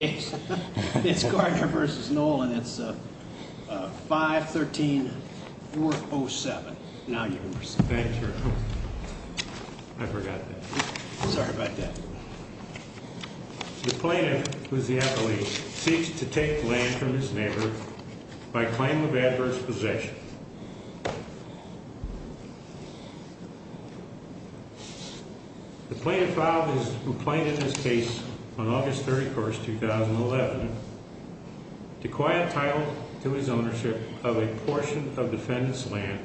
It's Gartner v. Noel and it's 513-407. Now your turn. Thank you. I forgot that. Sorry about that. The plaintiff, who is the appellee, seeks to take the land from his neighbor by claim of adverse possession. The plaintiff filed his complaint in this case on August 31, 2011, to acquire a title to his ownership of a portion of defendant's land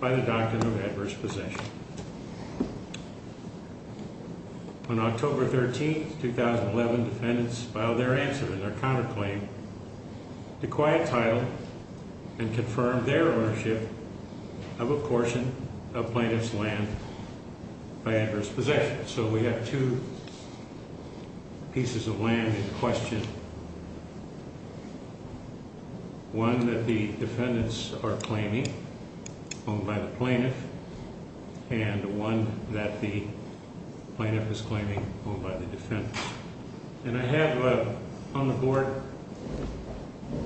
by the doctrine of adverse possession. On October 13, 2011, defendants filed their answer in their counterclaim to acquire a title and confirm their ownership of a portion of plaintiff's land by adverse possession. So we have two pieces of land in question. One that the defendants are claiming, owned by the plaintiff, and one that the plaintiff is claiming, owned by the defendants. And I have on the board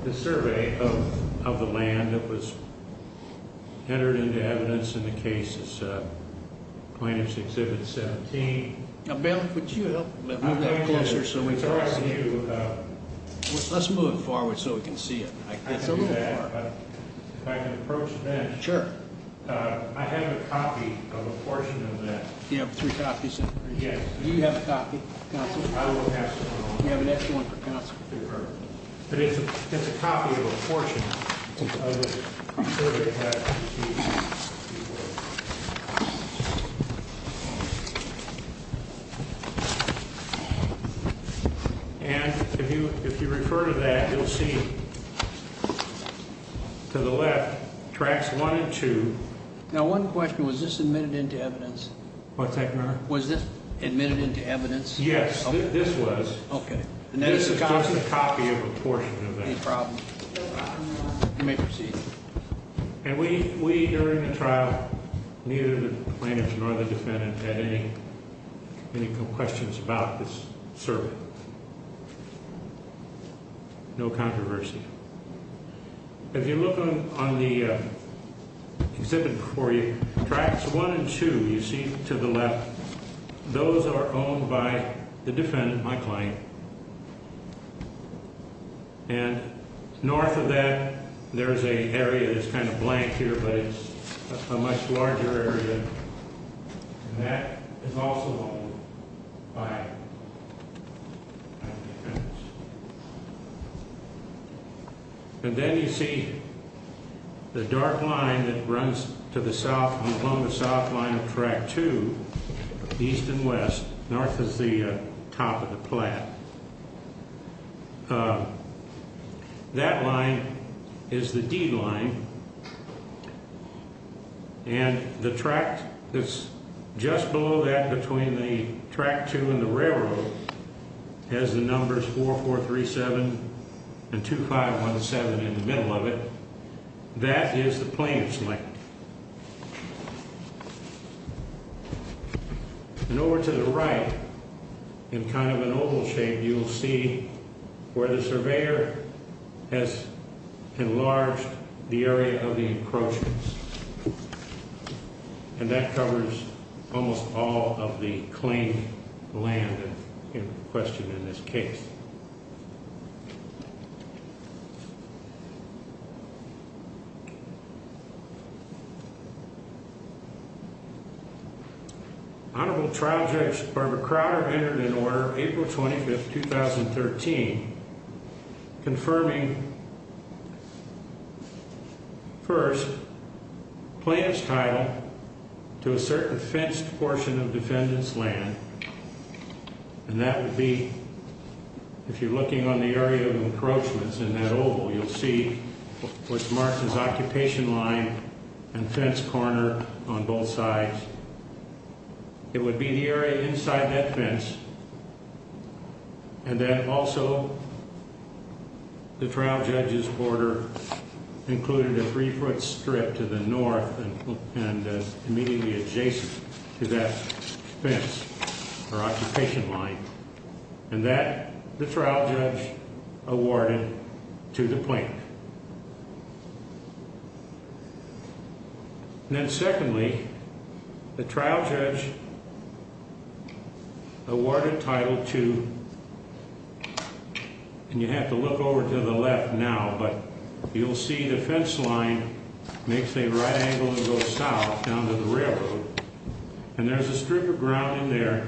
the survey of the land that was entered into evidence in the case of plaintiff's Exhibit 17. Now Bill, would you help me move that closer so we can see it? Let's move it forward so we can see it. If I can approach that. Sure. I have a copy of a portion of that. Yes. Do you have a copy, counsel? I will pass it along. We have an extra one for counsel. Perfect. But it's a copy of a portion of the survey that you wrote. And if you refer to that, you'll see to the left, Tracts 1 and 2. Now one question. Was this admitted into evidence? What's that, Your Honor? Was this admitted into evidence? Yes, this was. Okay. This is just a copy of a portion of that. Any problem. You may proceed. And we, during the trial, neither the plaintiff nor the defendant had any questions about this survey. No controversy. If you look on the exhibit before you, Tracts 1 and 2, you see to the left, those are owned by the defendant, my client. And north of that, there's an area that's kind of blank here, but it's a much larger area. And that is also owned by the defendant. And then you see the dark line that runs to the south and along the south line of Tract 2, east and west. North is the top of the plat. That line is the D line. And the tract that's just below that between the Tract 2 and the railroad has the numbers 4437 and 2517 in the middle of it. That is the plaintiff's lane. And over to the right, in kind of an oval shape, you'll see where the surveyor has enlarged the area of the encroachments. And that covers almost all of the claimed land in question in this case. Honorable Trial Judge Barbara Crowder entered into order April 25, 2013, confirming, first, plaintiff's title to a certain fenced portion of defendant's land. And that would be, if you're looking on the area of encroachments in that oval, you'll see what's marked as occupation line and fence corner on both sides. It would be the area inside that fence. And then also, the trial judge's order included a three-foot strip to the north and immediately adjacent to that fence or occupation line. And that, the trial judge awarded to the plaintiff. And then secondly, the trial judge awarded title to, and you have to look over to the left now, but you'll see the fence line makes a right angle and goes south down to the railroad. And there's a strip of ground in there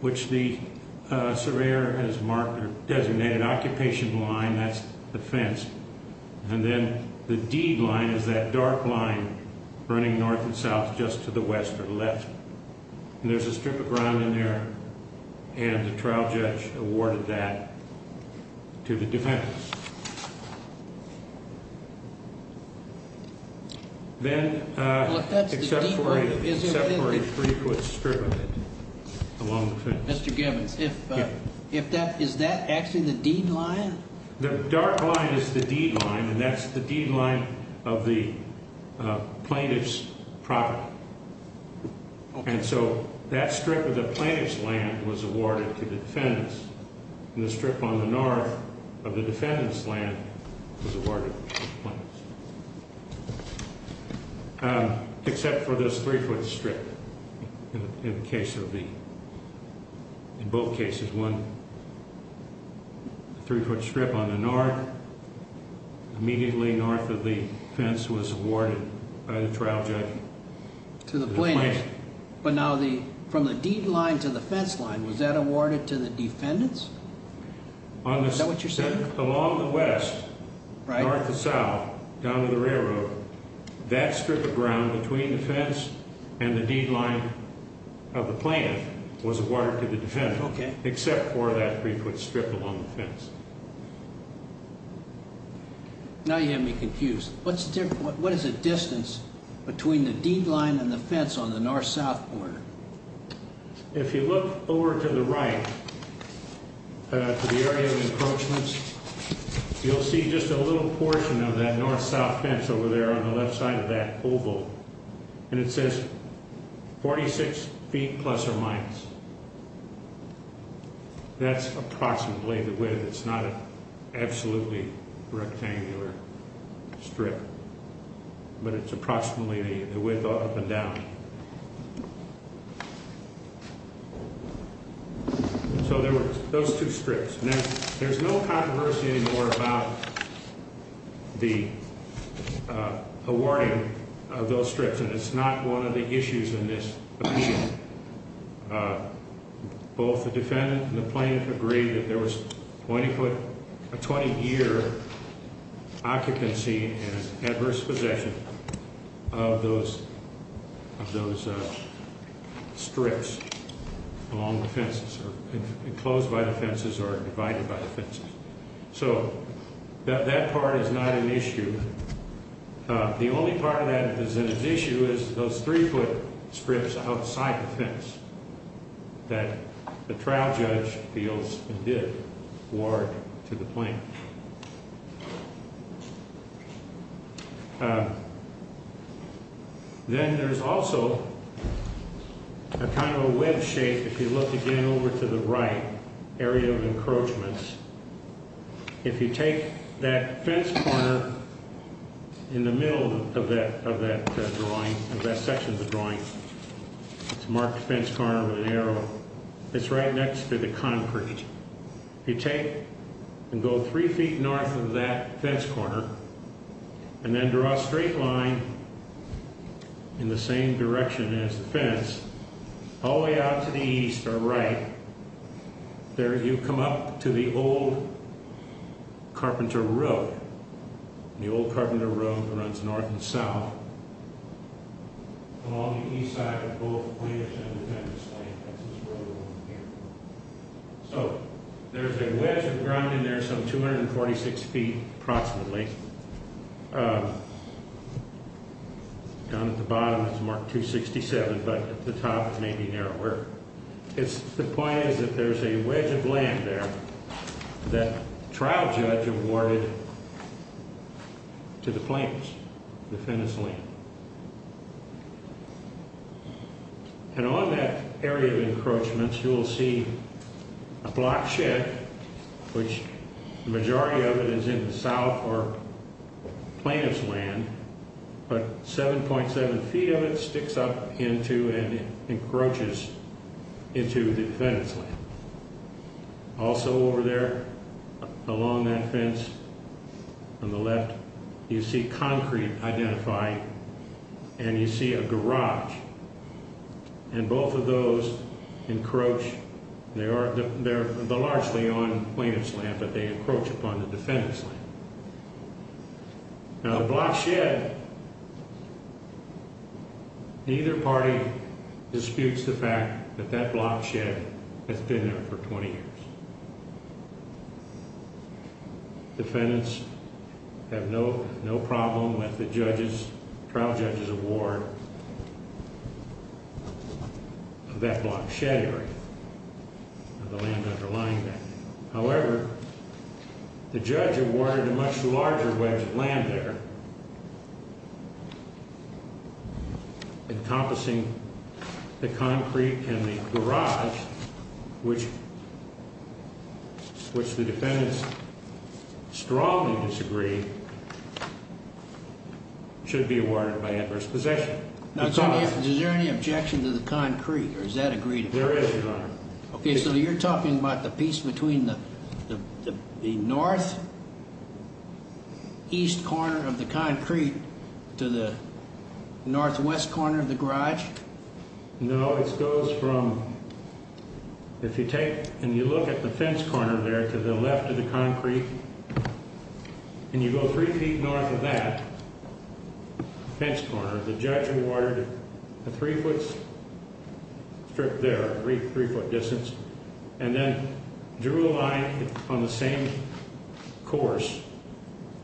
which the surveyor has marked or designated occupation line, that's the fence. And then the deed line is that dark line running north and south just to the west or left. And there's a strip of ground in there, and the trial judge awarded that to the defendant. Then, except for a three-foot strip of it along the fence. Mr. Gibbons, if that, is that actually the deed line? The dark line is the deed line, and that's the deed line of the plaintiff's property. And so, that strip of the plaintiff's land was awarded to the defendants. And the strip on the north of the defendant's land was awarded to the plaintiffs. Except for this three-foot strip in the case of the, in both cases. There's one three-foot strip on the north, immediately north of the fence was awarded by the trial judge to the plaintiff. But now the, from the deed line to the fence line, was that awarded to the defendants? Is that what you're saying? Along the west, north to south, down to the railroad, that strip of ground between the fence and the deed line of the plaintiff was awarded to the defendant. Okay. Except for that three-foot strip along the fence. Now you have me confused. What's the difference, what is the distance between the deed line and the fence on the north-south border? If you look over to the right, to the area of encroachments, you'll see just a little portion of that north-south fence over there on the left side of that oval. And it says 46 feet plus or minus. That's approximately the width. It's not an absolutely rectangular strip, but it's approximately the width up and down. So there were those two strips. Now, there's no controversy anymore about the awarding of those strips, and it's not one of the issues in this opinion. Both the defendant and the plaintiff agreed that there was a 20-year occupancy and adverse possession of those strips along the fences, enclosed by the fences or divided by the fences. So that part is not an issue. The only part that is an issue is those three-foot strips outside the fence that the trial judge feels did award to the plaintiff. Then there's also a kind of a webbed shape, if you look again over to the right area of encroachments. If you take that fence corner in the middle of that drawing, of that section of the drawing, it's marked fence corner with an arrow, it's right next to the concrete. If you take and go three feet north of that fence corner and then draw a straight line in the same direction as the fence, all the way out to the east or right, there you come up to the old carpenter road. The old carpenter road runs north and south. Along the east side are both the plaintiff's and the defendant's land. So there's a wedge of ground in there some 246 feet approximately. Down at the bottom it's marked 267, but at the top it may be narrower. The point is that there's a wedge of land there that the trial judge awarded to the plaintiff's, the defendant's land. And on that area of encroachments you'll see a block shed, which the majority of it is in the south or plaintiff's land, but 7.7 feet of it sticks up into and encroaches into the defendant's land. Also over there, along that fence on the left, you see concrete identifying and you see a garage. And both of those encroach, they're largely on the plaintiff's land, but they encroach upon the defendant's land. Now the block shed, neither party disputes the fact that that block shed has been there for 20 years. Defendants have no problem with the trial judge's award of that block shed area or the land underlying that. However, the judge awarded a much larger wedge of land there, encompassing the concrete and the garage, which the defendants strongly disagree should be awarded by adverse possession. Now is there any objection to the concrete or is that agreed upon? Okay, so you're talking about the piece between the north east corner of the concrete to the northwest corner of the garage? No, it goes from, if you take and you look at the fence corner there to the left of the concrete and you go three feet north of that fence corner, the judge awarded a three foot strip there, three foot distance, and then drew a line on the same course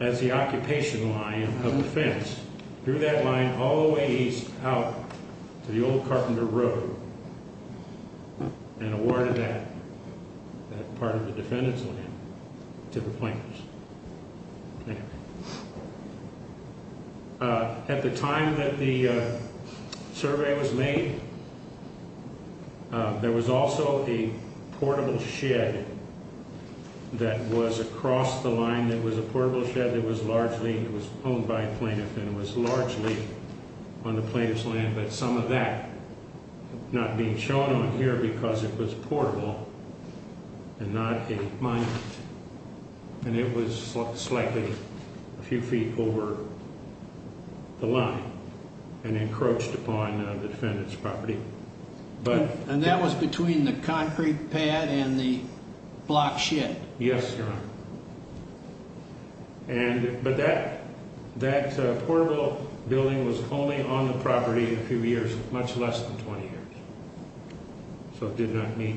as the occupation line of the fence, drew that line all the way east out to the old carpenter road and awarded that part of the defendant's land to the plaintiffs. At the time that the survey was made, there was also a portable shed that was across the line that was a portable shed that was largely, it was owned by a plaintiff and was largely on the plaintiff's land, but some of that not being shown on here because it was portable and not a mine, and it was slightly a few feet over the line and encroached upon the defendant's property. And that was between the concrete pad and the block shed? Yes, Your Honor. But that portable building was only on the property a few years, much less than 20 years. So it did not meet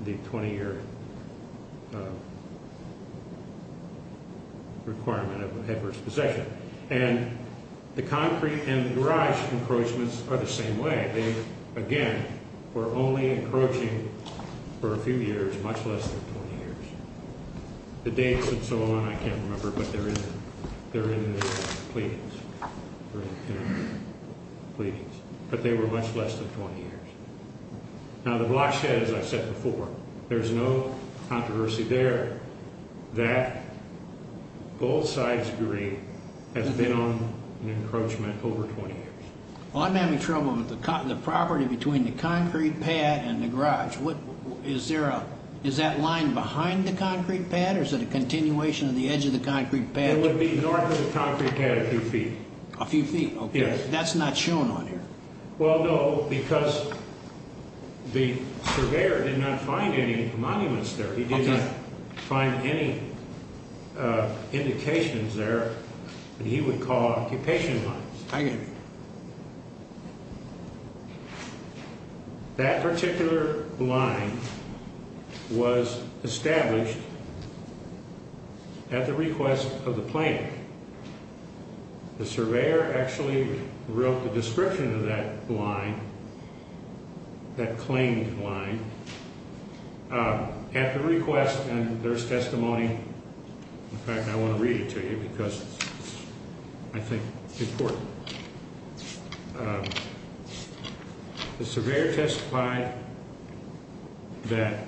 the 20 year requirement of the heifer's possession. And the concrete and the garage encroachments are the same way. They, again, were only encroaching for a few years, much less than 20 years. The dates and so on, I can't remember, but they're in the pleadings. But they were much less than 20 years. Now, the block shed, as I said before, there's no controversy there that both sides agree has been on an encroachment over 20 years. Well, I'm having trouble with the property between the concrete pad and the garage. Is that line behind the concrete pad or is it a continuation of the edge of the concrete pad? It would be north of the concrete pad a few feet. A few feet, okay. Yes. That's not shown on here. Well, no, because the surveyor did not find any monuments there. He did not find any indications there that he would call occupation lines. I get it. That particular line was established at the request of the plaintiff. The surveyor actually wrote the description of that line, that claimed line, at the request, and there's testimony. In fact, I want to read it to you because I think it's important. The surveyor testified that.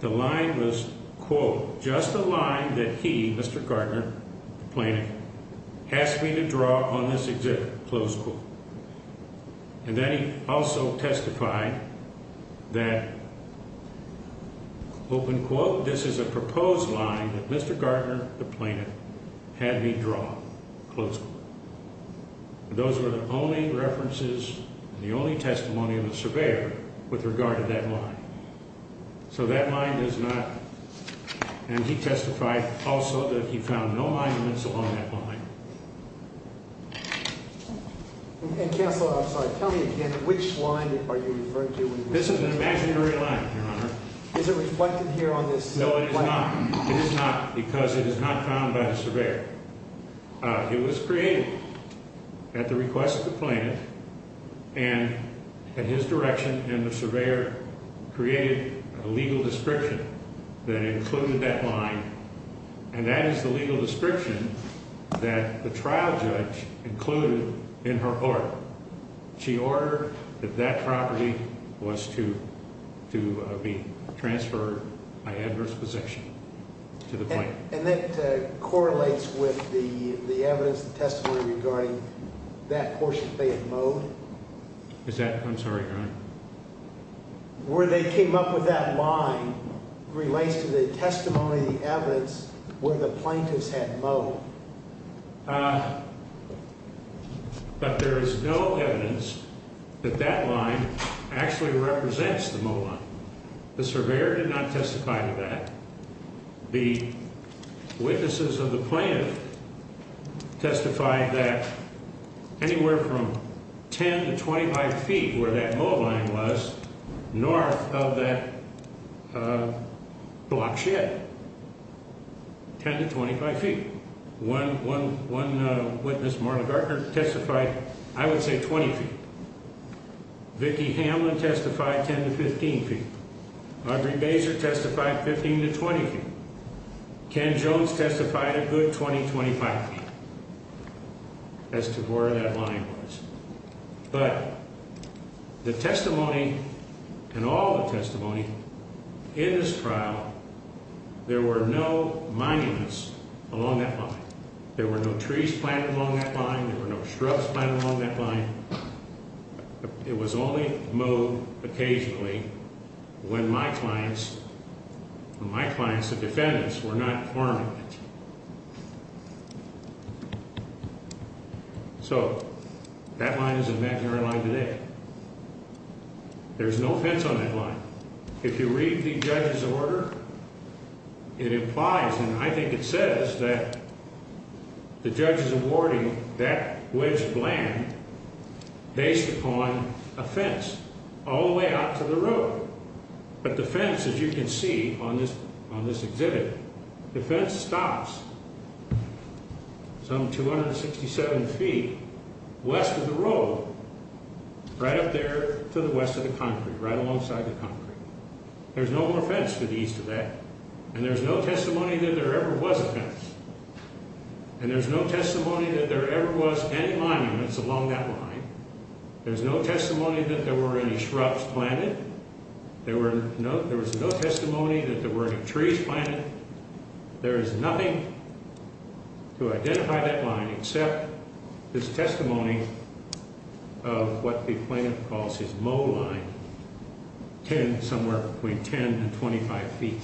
The line was, quote, just a line that he, Mr. Gardner, plaintiff, asked me to draw on this exhibit, close quote. And then he also testified that, open quote, this is a proposed line that Mr. Gardner, the plaintiff, had me draw, close quote. Those were the only references and the only testimony of the surveyor with regard to that line. So that line does not, and he testified also that he found no monuments along that line. Counsel, I'm sorry, tell me again, which line are you referring to? This is an imaginary line, Your Honor. Is it reflected here on this? No, it is not. It is not because it is not found by the surveyor. It was created at the request of the plaintiff and at his direction, and the surveyor created a legal description that included that line. And that is the legal description that the trial judge included in her order. She ordered that that property was to be transferred by adverse possession to the plaintiff. And that correlates with the evidence, the testimony regarding that portion of Fayette Mowed? Where they came up with that line relates to the testimony, the evidence where the plaintiff's had mowed. But there is no evidence that that line actually represents the mow line. The surveyor did not testify to that. The witnesses of the plaintiff testified that anywhere from 10 to 25 feet where that mow line was north of that block shed, 10 to 25 feet. One witness, Marla Gartner, testified, I would say 20 feet. Vicki Hamlin testified 10 to 15 feet. Audrey Baser testified 15 to 20 feet. Ken Jones testified a good 20, 25 feet as to where that line was. But the testimony and all the testimony in this trial, there were no monuments along that line. There were no trees planted along that line. There were no shrubs planted along that line. It was only mowed occasionally when my clients, when my clients, the defendants, were not harmed. So that line is a imaginary line today. There's no fence on that line. If you read the judge's order, it implies, and I think it says that the judge is awarding that wedge of land based upon a fence all the way out to the road. But the fence, as you can see on this exhibit, the fence stops some 267 feet west of the road, right up there to the west of the concrete, right alongside the concrete. There's no more fence to the east of that. And there's no testimony that there ever was a fence. And there's no testimony that there ever was any monuments along that line. There's no testimony that there were any shrubs planted. There was no testimony that there were any trees planted. There is nothing to identify that line except this testimony of what the plaintiff calls his mow line, somewhere between 10 and 25 feet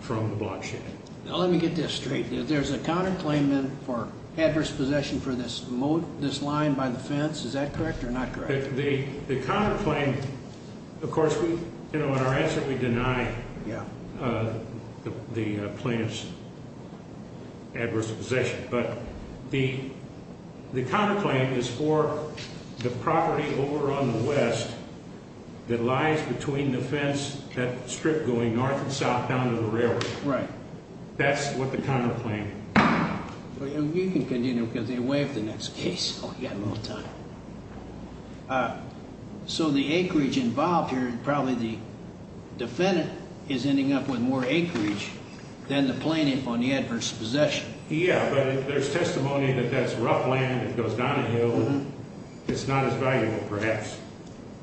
from the block shed. Now let me get this straight. There's a counterclaim for adverse possession for this line by the fence. Is that correct or not correct? The counterclaim, of course, in our answer we deny the plaintiff's adverse possession. But the counterclaim is for the property over on the west that lies between the fence, that strip going north and south down to the railroad. Right. That's what the counterclaim is. You can continue because you waived the next case. Oh, you got a little time. So the acreage involved here, probably the defendant is ending up with more acreage than the plaintiff on the adverse possession. Yeah, but there's testimony that that's rough land that goes down a hill. It's not as valuable, perhaps,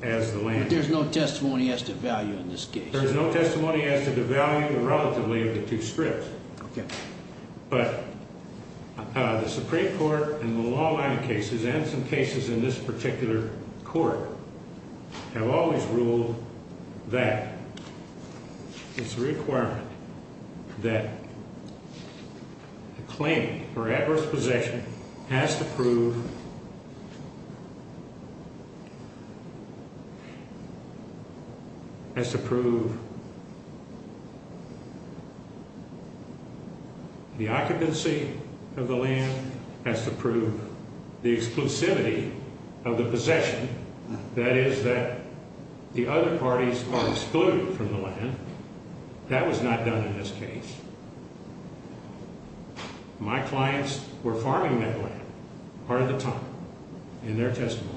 as the land. But there's no testimony as to value in this case. There is no testimony as to the value relatively of the two strips. But the Supreme Court in the long line of cases and some cases in this particular court. I've always ruled that it's a requirement that a claim for adverse possession has to prove. The exclusivity of the possession, that is that the other parties are excluded from the land. That was not done in this case. My clients were farming that land part of the time in their testimony.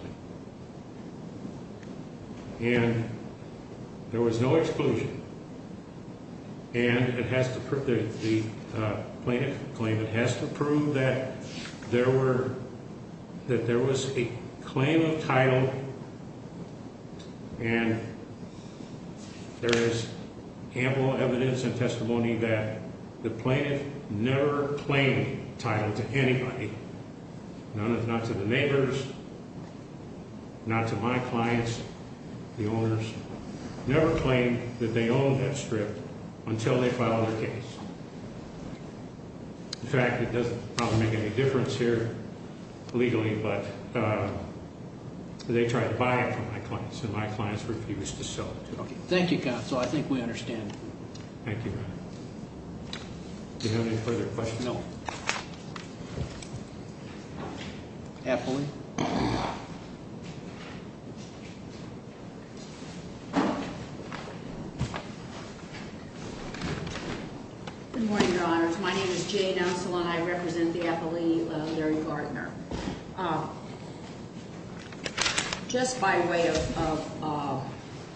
And there was no exclusion. And the plaintiff's claim has to prove that there was a claim of title. And there is ample evidence and testimony that the plaintiff never claimed title to anybody. Not to the neighbors, not to my clients. The owners never claimed that they owned that strip until they filed their case. In fact, it doesn't probably make any difference here legally, but they tried to buy it from my clients. And my clients refused to sell it to them. Thank you, counsel. I think we understand. Thank you, Your Honor. Do you have any further questions? No. Appellee. Good morning, Your Honors. My name is Jane Oselan. I represent the appellee, Larry Gardner. Just by way of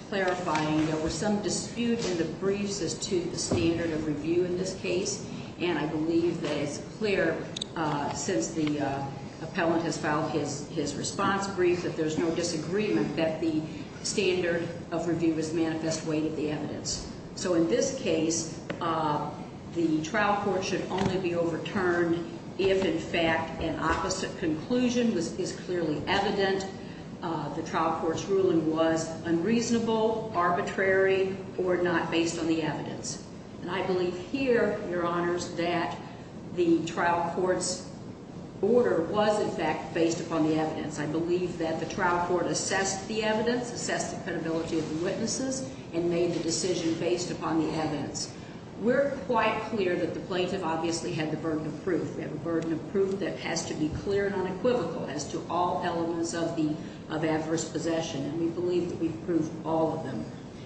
clarifying, there were some disputes in the briefs as to the standard of review in this case. And I believe that it's clear since the appellant has filed his response brief that there's no disagreement that the standard of review was manifest way to the evidence. So in this case, the trial court should only be overturned if, in fact, an opposite conclusion is clearly evident. The trial court's ruling was unreasonable, arbitrary, or not based on the evidence. And I believe here, Your Honors, that the trial court's order was, in fact, based upon the evidence. I believe that the trial court assessed the evidence, assessed the credibility of the witnesses, and made the decision based upon the evidence. We're quite clear that the plaintiff obviously had the burden of proof. We have a burden of proof that has to be clear and unequivocal as to all elements of adverse possession. And we believe that we've proved all of them.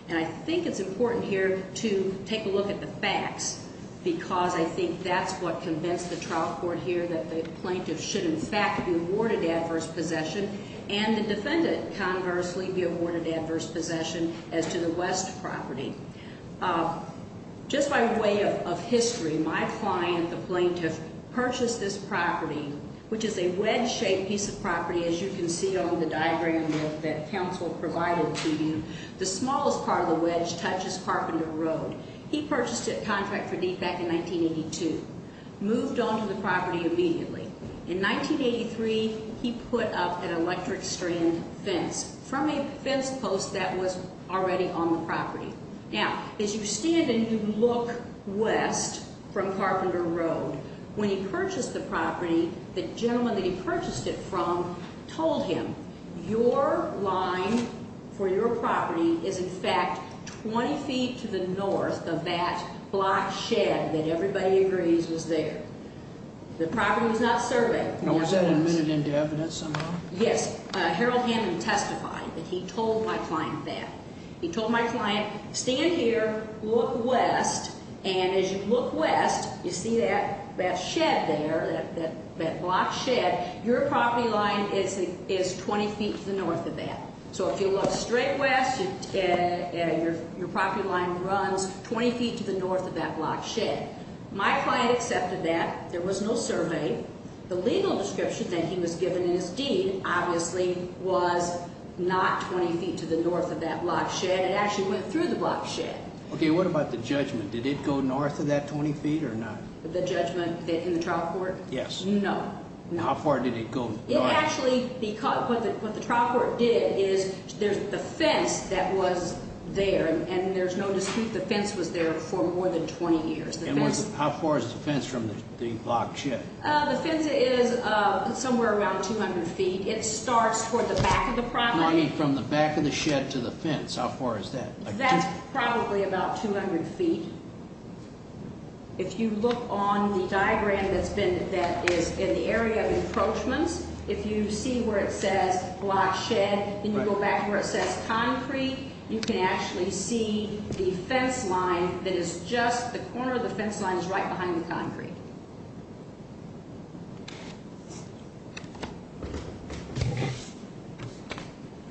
And I think it's important here to take a look at the facts because I think that's what convinced the trial court here, that the plaintiff should, in fact, be awarded adverse possession and the defendant, conversely, be awarded adverse possession as to the West property. Just by way of history, my client, the plaintiff, purchased this property, which is a wedge-shaped piece of property, as you can see on the diagram that counsel provided to you. The smallest part of the wedge touches Carpenter Road. He purchased it contract for deed back in 1982, moved on to the property immediately. In 1983, he put up an electric strand fence from a fence post that was already on the property. Now, as you stand and you look west from Carpenter Road, when he purchased the property, the gentleman that he purchased it from told him, your line for your property is, in fact, 20 feet to the north of that block shed that everybody agrees was there. The property was not surveyed. Now, was that admitted into evidence somehow? Yes. Harold Hammond testified that he told my client that. Your property line is 20 feet to the north of that. So if you look straight west, your property line runs 20 feet to the north of that block shed. My client accepted that. There was no survey. The legal description that he was given in his deed, obviously, was not 20 feet to the north of that block shed. It actually went through the block shed. Okay, what about the judgment? Did it go north of that 20 feet or not? The judgment in the trial court? Yes. No. How far did it go north? What the trial court did is there's the fence that was there, and there's no dispute the fence was there for more than 20 years. How far is the fence from the block shed? The fence is somewhere around 200 feet. It starts toward the back of the property. From the back of the shed to the fence, how far is that? That's probably about 200 feet. If you look on the diagram that is in the area of encroachments, if you see where it says block shed and you go back to where it says concrete, you can actually see the fence line that is just the corner of the fence line is right behind the concrete.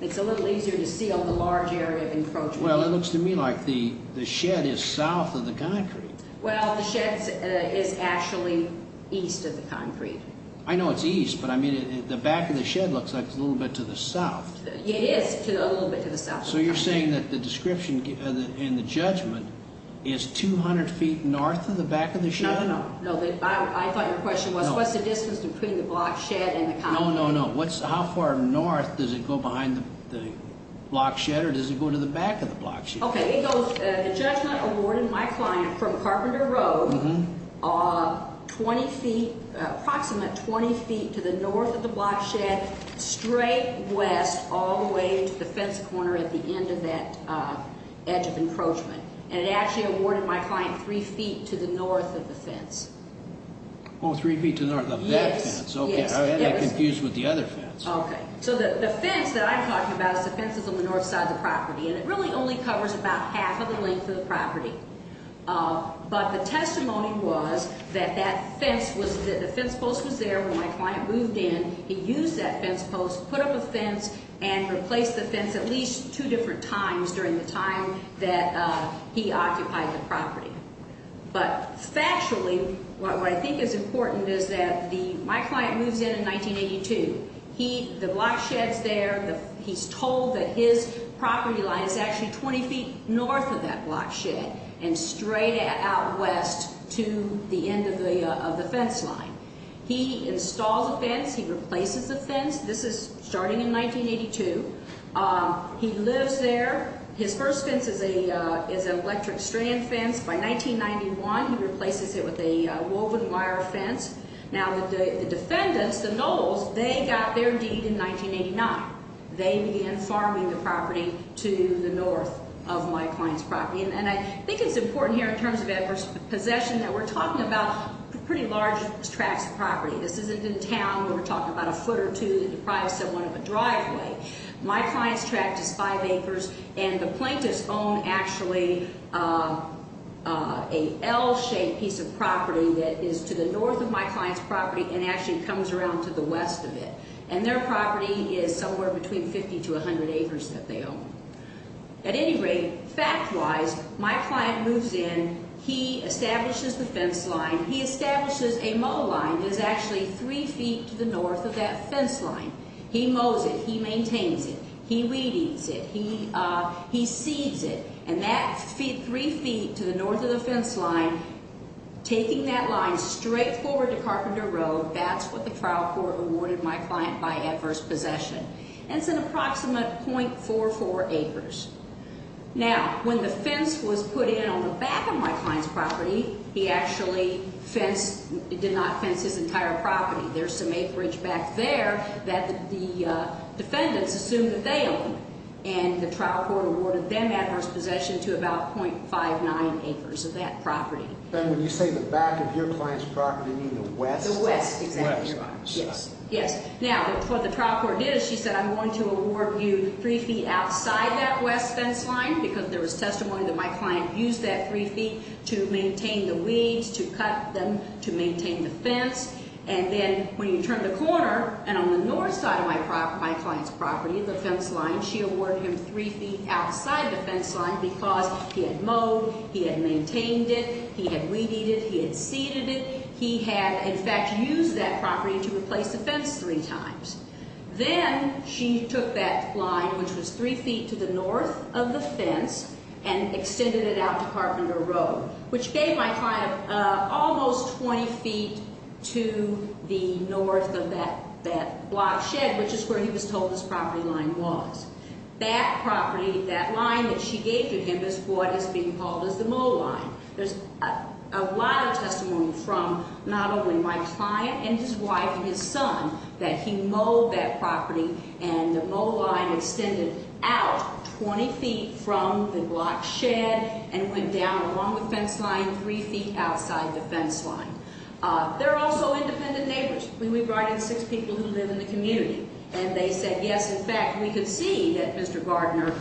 It's a little easier to see on the large area of encroachment. It looks to me like the shed is south of the concrete. The shed is actually east of the concrete. I know it's east, but the back of the shed looks like it's a little bit to the south. It is a little bit to the south of the concrete. You're saying that the description in the judgment is 200 feet north of the back of the shed? No. I thought your question was what's the distance between the block shed and the concrete? How far north does it go behind the block shed or does it go to the back of the block shed? The judgment awarded my client from Carpenter Road approximately 20 feet to the north of the block shed, straight west all the way to the fence corner at the end of that edge of encroachment. It actually awarded my client three feet to the north of the fence. Three feet to the north of that fence? Yes. I'm getting confused with the other fence. The fence that I'm talking about is the fences on the north side of the property, and it really only covers about half of the length of the property. But the testimony was that the fence post was there when my client moved in. He used that fence post, put up a fence, and replaced the fence at least two different times during the time that he occupied the property. But factually, what I think is important is that my client moves in in 1982. The block shed's there. He's told that his property line is actually 20 feet north of that block shed and straight out west to the end of the fence line. He installs a fence. He replaces the fence. This is starting in 1982. He lives there. His first fence is an electric strand fence. By 1991, he replaces it with a woven wire fence. Now, the defendants, the Knowles, they got their deed in 1989. They began farming the property to the north of my client's property. And I think it's important here in terms of adverse possession that we're talking about pretty large tracts of property. This isn't a town where we're talking about a foot or two that deprives someone of a driveway. My client's tract is five acres, and the plaintiffs own actually an L-shaped piece of property that is to the north of my client's property and actually comes around to the west of it. And their property is somewhere between 50 to 100 acres that they own. At any rate, fact-wise, my client moves in. He establishes the fence line. He establishes a mow line that is actually three feet to the north of that fence line. He mows it. He maintains it. He weeds it. He seeds it. And that three feet to the north of the fence line, taking that line straight forward to Carpenter Road, that's what the trial court awarded my client by adverse possession. And it's an approximate .44 acres. Now, when the fence was put in on the back of my client's property, he actually fenced, did not fence his entire property. There's some acreage back there that the defendants assumed that they owned, and the trial court awarded them adverse possession to about .59 acres of that property. And when you say the back of your client's property, you mean the west? The west, exactly. Yes. Now, what the trial court did is she said, I'm going to award you three feet outside that west fence line because there was testimony that my client used that three feet to maintain the weeds, to cut them, to maintain the fence. And then when you turn the corner, and on the north side of my client's property, the fence line, she awarded him three feet outside the fence line because he had mowed, he had maintained it, he had weeded it, he had seeded it. He had, in fact, used that property to replace the fence three times. Then she took that line, which was three feet to the north of the fence, and extended it out to Carpenter Road, which gave my client almost 20 feet to the north of that block shed, which is where he was told his property line was. That property, that line that she gave to him is what is being called as the mow line. There's a lot of testimony from not only my client and his wife and his son that he mowed that property, and the mow line extended out 20 feet from the block shed and went down along the fence line three feet outside the fence line. There are also independent neighbors. We brought in six people who live in the community, and they said, yes, in fact, we could see that Mr. Gardner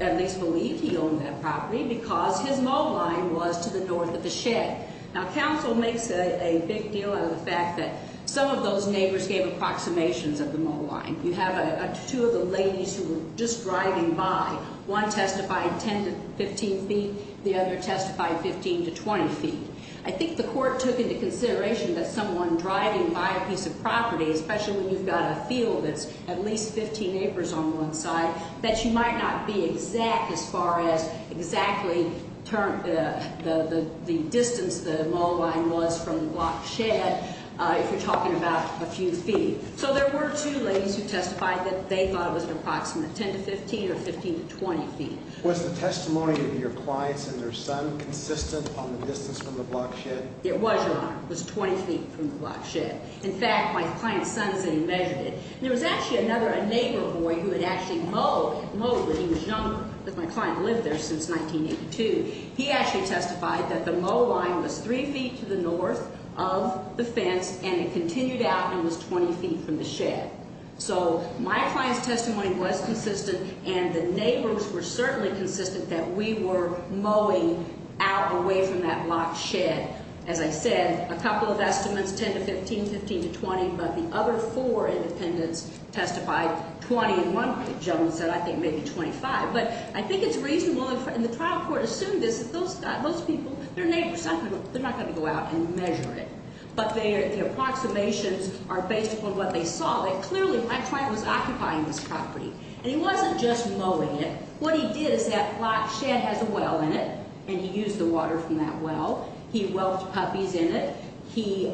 at least believed he owned that property because his mow line was to the north of the shed. Now, counsel makes a big deal out of the fact that some of those neighbors gave approximations of the mow line. You have two of the ladies who were just driving by. One testified 10 to 15 feet. The other testified 15 to 20 feet. I think the court took into consideration that someone driving by a piece of property, especially when you've got a field that's at least 15 acres on one side, that you might not be exact as far as exactly the distance the mow line was from the block shed if you're talking about a few feet. So there were two ladies who testified that they thought it was an approximate 10 to 15 or 15 to 20 feet. Was the testimony of your clients and their son consistent on the distance from the block shed? It was, Your Honor. It was 20 feet from the block shed. In fact, my client's son said he measured it. There was actually another neighbor boy who had actually mowed when he was younger. My client lived there since 1982. He actually testified that the mow line was 3 feet to the north of the fence, and it continued out and was 20 feet from the shed. So my client's testimony was consistent, and the neighbors were certainly consistent that we were mowing out away from that block shed. As I said, a couple of estimates, 10 to 15, 15 to 20, but the other four independents testified 20, and one gentleman said I think maybe 25. But I think it's reasonable, and the trial court assumed this, that those people, their neighbors, they're not going to go out and measure it. But the approximations are based upon what they saw. Clearly, my client was occupying this property, and he wasn't just mowing it. What he did is that block shed has a well in it, and he used the water from that well. He whelked puppies in it. He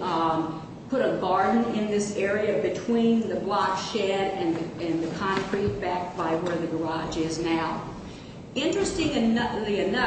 put a garden in this area between the block shed and the concrete back by where the garage is now. Interestingly enough,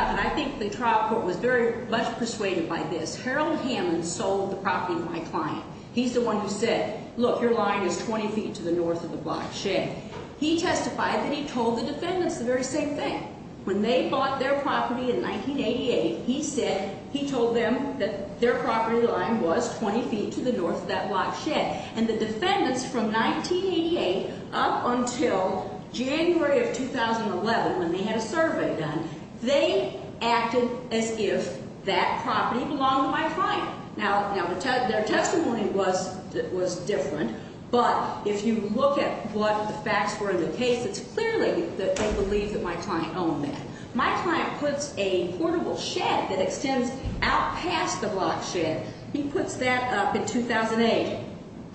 and I think the trial court was very much persuaded by this, Harold Hammond sold the property to my client. He's the one who said, look, your line is 20 feet to the north of the block shed. He testified that he told the defendants the very same thing. When they bought their property in 1988, he said he told them that their property line was 20 feet to the north of that block shed. And the defendants from 1988 up until January of 2011, when they had a survey done, they acted as if that property belonged to my client. Now, their testimony was different, but if you look at what the facts were in the case, it's clearly that they believe that my client owned that. My client puts a portable shed that extends out past the block shed. He puts that up in 2008,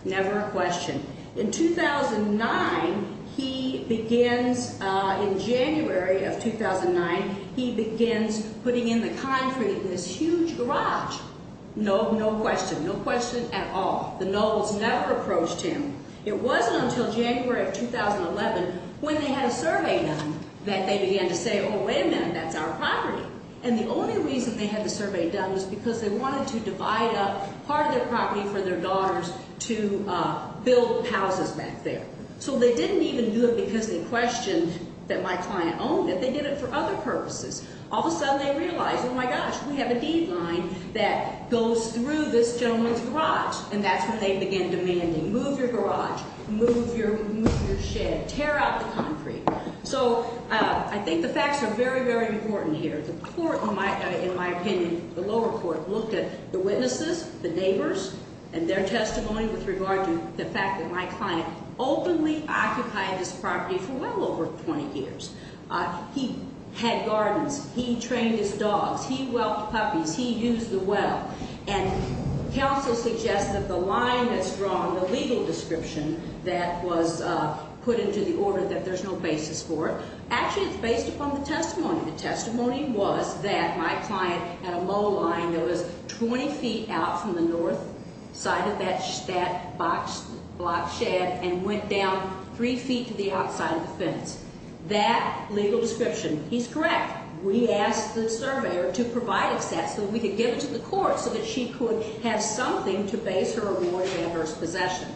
never a question. In 2009, he begins, in January of 2009, he begins putting in the concrete in this huge garage. No, no question, no question at all. The nobles never approached him. It wasn't until January of 2011, when they had a survey done, that they began to say, oh, wait a minute, that's our property. And the only reason they had the survey done was because they wanted to divide up part of their property for their daughters to build houses back there. So they didn't even do it because they questioned that my client owned it. They did it for other purposes. All of a sudden, they realized, oh, my gosh, we have a deed line that goes through this gentleman's garage. And that's when they began demanding, move your garage, move your shed, tear out the concrete. So I think the facts are very, very important here. The court, in my opinion, the lower court, looked at the witnesses, the neighbors, and their testimony with regard to the fact that my client openly occupied this property for well over 20 years. He had gardens. He trained his dogs. He whelked puppies. He used the well. And counsel suggested the line that's drawn, the legal description that was put into the order that there's no basis for it. Actually, it's based upon the testimony. The testimony was that my client had a mow line that was 20 feet out from the north side of that block shed and went down three feet to the outside of the fence. That legal description, he's correct. We asked the surveyor to provide a set so that we could give it to the court so that she could have something to base her award of adverse possession.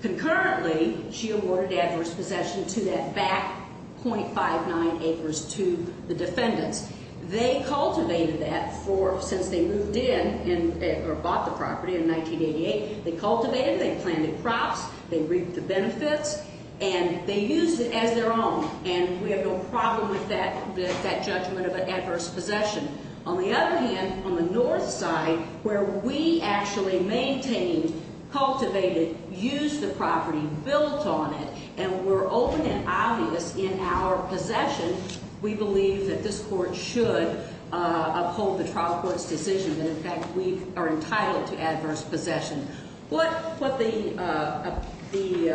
Concurrently, she awarded adverse possession to that back .59 acres to the defendants. They cultivated that for since they moved in or bought the property in 1988. They cultivated it. They planted crops. They reaped the benefits. And they used it as their own. And we have no problem with that judgment of an adverse possession. On the other hand, on the north side, where we actually maintained, cultivated, used the property, built on it, and were open and obvious in our possession, we believe that this court should uphold the trial court's decision. And, in fact, we are entitled to adverse possession. What the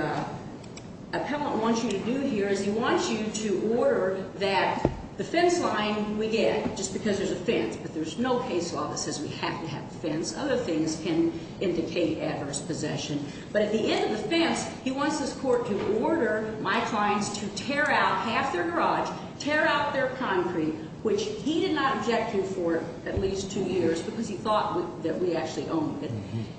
appellant wants you to do here is he wants you to order that the fence line we get, just because there's a fence, but there's no case law that says we have to have a fence. Other things can indicate adverse possession. But at the end of the fence, he wants this court to order my clients to tear out half their garage, tear out their concrete, which he did not object to for at least two years because he thought that we actually owned it.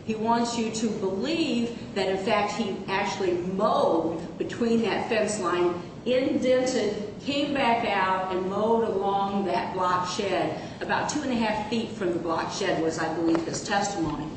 He wants you to believe that, in fact, he actually mowed between that fence line, indented, came back out, and mowed along that block shed. About two and a half feet from the block shed was, I believe, his testimony.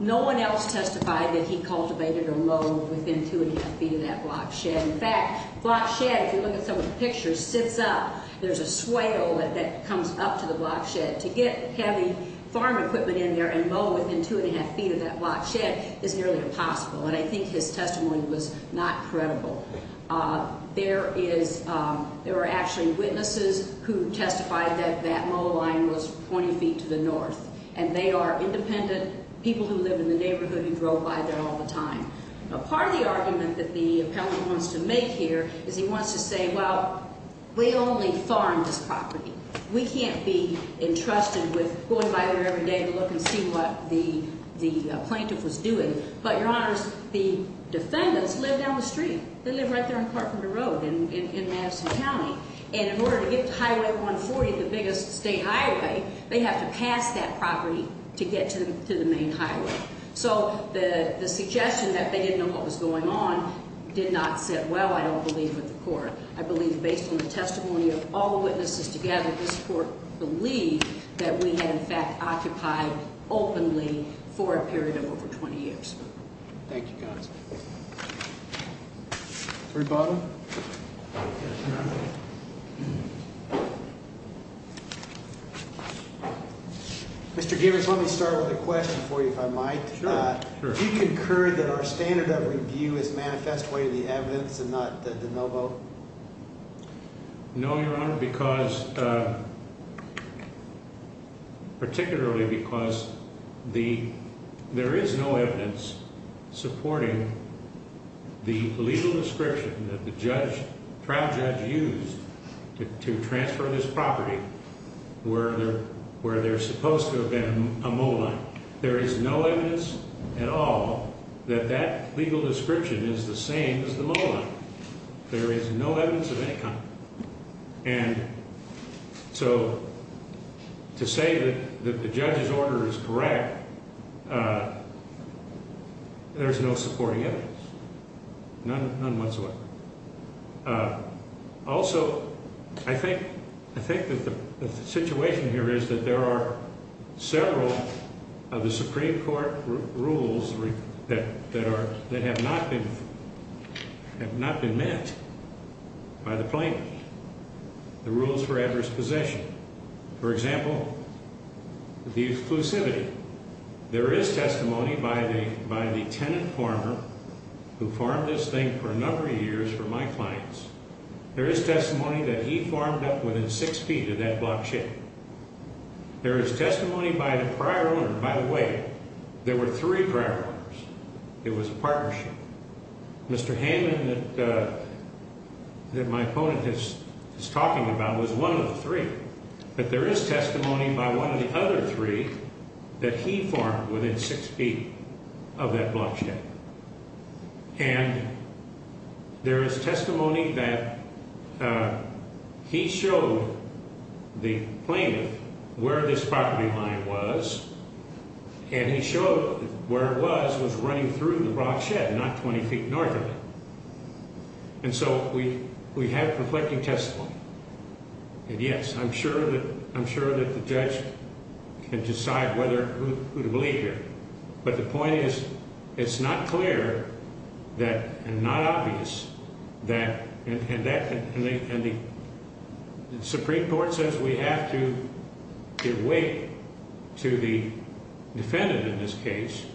No one else testified that he cultivated or mowed within two and a half feet of that block shed. In fact, block shed, if you look at some of the pictures, sits up. There's a swale that comes up to the block shed. To get heavy farm equipment in there and mow within two and a half feet of that block shed is nearly impossible. And I think his testimony was not credible. There is – there were actually witnesses who testified that that mow line was 20 feet to the north. And they are independent people who live in the neighborhood who drove by there all the time. Part of the argument that the appellant wants to make here is he wants to say, well, we only farm this property. We can't be entrusted with going by there every day to look and see what the plaintiff was doing. But, Your Honors, the defendants live down the street. They live right there on Carpenter Road in Madison County. And in order to get to Highway 140, the biggest state highway, they have to pass that property to get to the main highway. So the suggestion that they didn't know what was going on did not sit well, I don't believe, with the court. I believe, based on the testimony of all the witnesses together, this court believed that we had, in fact, occupied openly for a period of over 20 years. Thank you, counsel. Rebuttal? Mr. Gibbons, let me start with a question for you, if I might. Sure, sure. Do you concur that our standard of review is manifest way to the evidence and not the no vote? No, Your Honor, because particularly because there is no evidence supporting the legal description that the trial judge used to transfer this property where there's supposed to have been a mow line. There is no evidence at all that that legal description is the same as the mow line. There is no evidence of any kind. And so to say that the judge's order is correct, there's no supporting evidence, none whatsoever. Also, I think that the situation here is that there are several of the Supreme Court rules that have not been met by the plaintiff, the rules for adverse possession. For example, the exclusivity. There is testimony by the tenant farmer who farmed this thing for a number of years for my clients. There is testimony that he farmed up within six feet of that block chain. There is testimony by the prior owner. By the way, there were three prior owners. It was a partnership. Mr. Hammond, that my opponent is talking about, was one of the three. But there is testimony by one of the other three that he farmed within six feet of that block chain. And there is testimony that he showed the plaintiff where this property line was, and he showed where it was, was running through the rock shed, not 20 feet north of it. And so we have conflicting testimony. And, yes, I'm sure that the judge can decide whether who to believe here. But the point is it's not clear and not obvious that the Supreme Court says we have to give weight to the defendant in this case,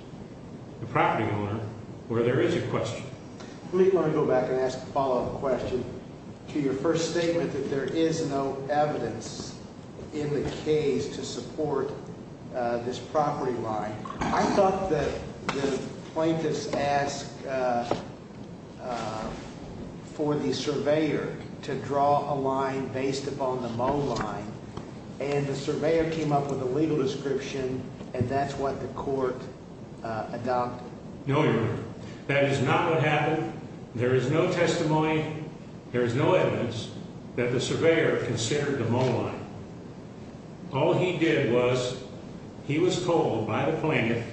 the property owner, where there is a question. Let me go back and ask a follow-up question to your first statement that there is no evidence in the case to support this property line. I thought that the plaintiffs asked for the surveyor to draw a line based upon the mow line, and the surveyor came up with a legal description, and that's what the court adopted. No, Your Honor, that is not what happened. There is no testimony, there is no evidence that the surveyor considered the mow line. All he did was he was told by the plaintiff,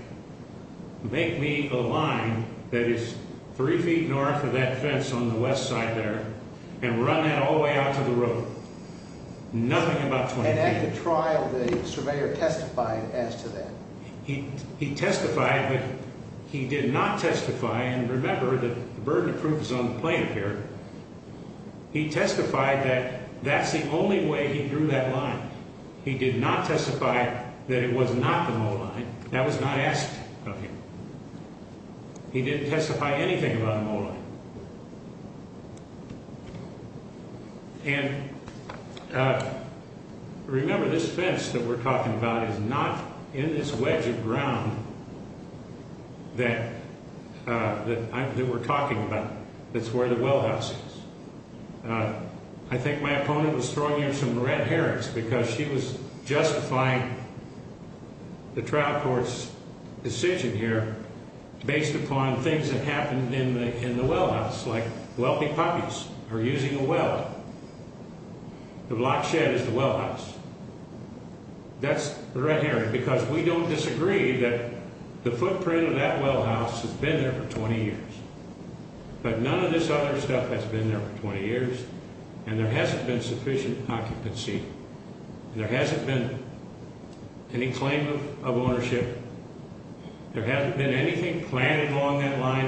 make me a line that is three feet north of that fence on the west side there and run that all the way out to the road, nothing about 20 feet. And at the trial, the surveyor testified as to that. He testified, but he did not testify. And remember, the burden of proof is on the plaintiff here. He testified that that's the only way he drew that line. He did not testify that it was not the mow line. That was not asked of him. He didn't testify anything about the mow line. And remember, this fence that we're talking about is not in this wedge of ground that we're talking about that's where the well house is. I think my opponent was throwing you some red herrings because she was justifying the trial court's decision here based upon things that happened in the well house, like wealthy puppies are using a well. The block shed is the well house. That's the red herring because we don't disagree that the footprint of that well house has been there for 20 years. But none of this other stuff has been there for 20 years, and there hasn't been sufficient occupancy. There hasn't been any claim of ownership. There hasn't been anything planned along that line.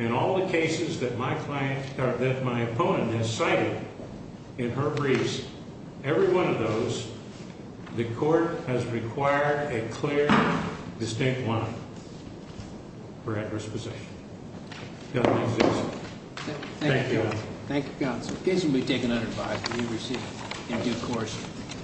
In all the cases that my client, that my opponent has cited in her briefs, every one of those, the court has required a clear, distinct line for adverse possession. It doesn't exist. Thank you. Thank you, counsel. In case you'll be taken unadvised, will you receive it? Thank you. Of course.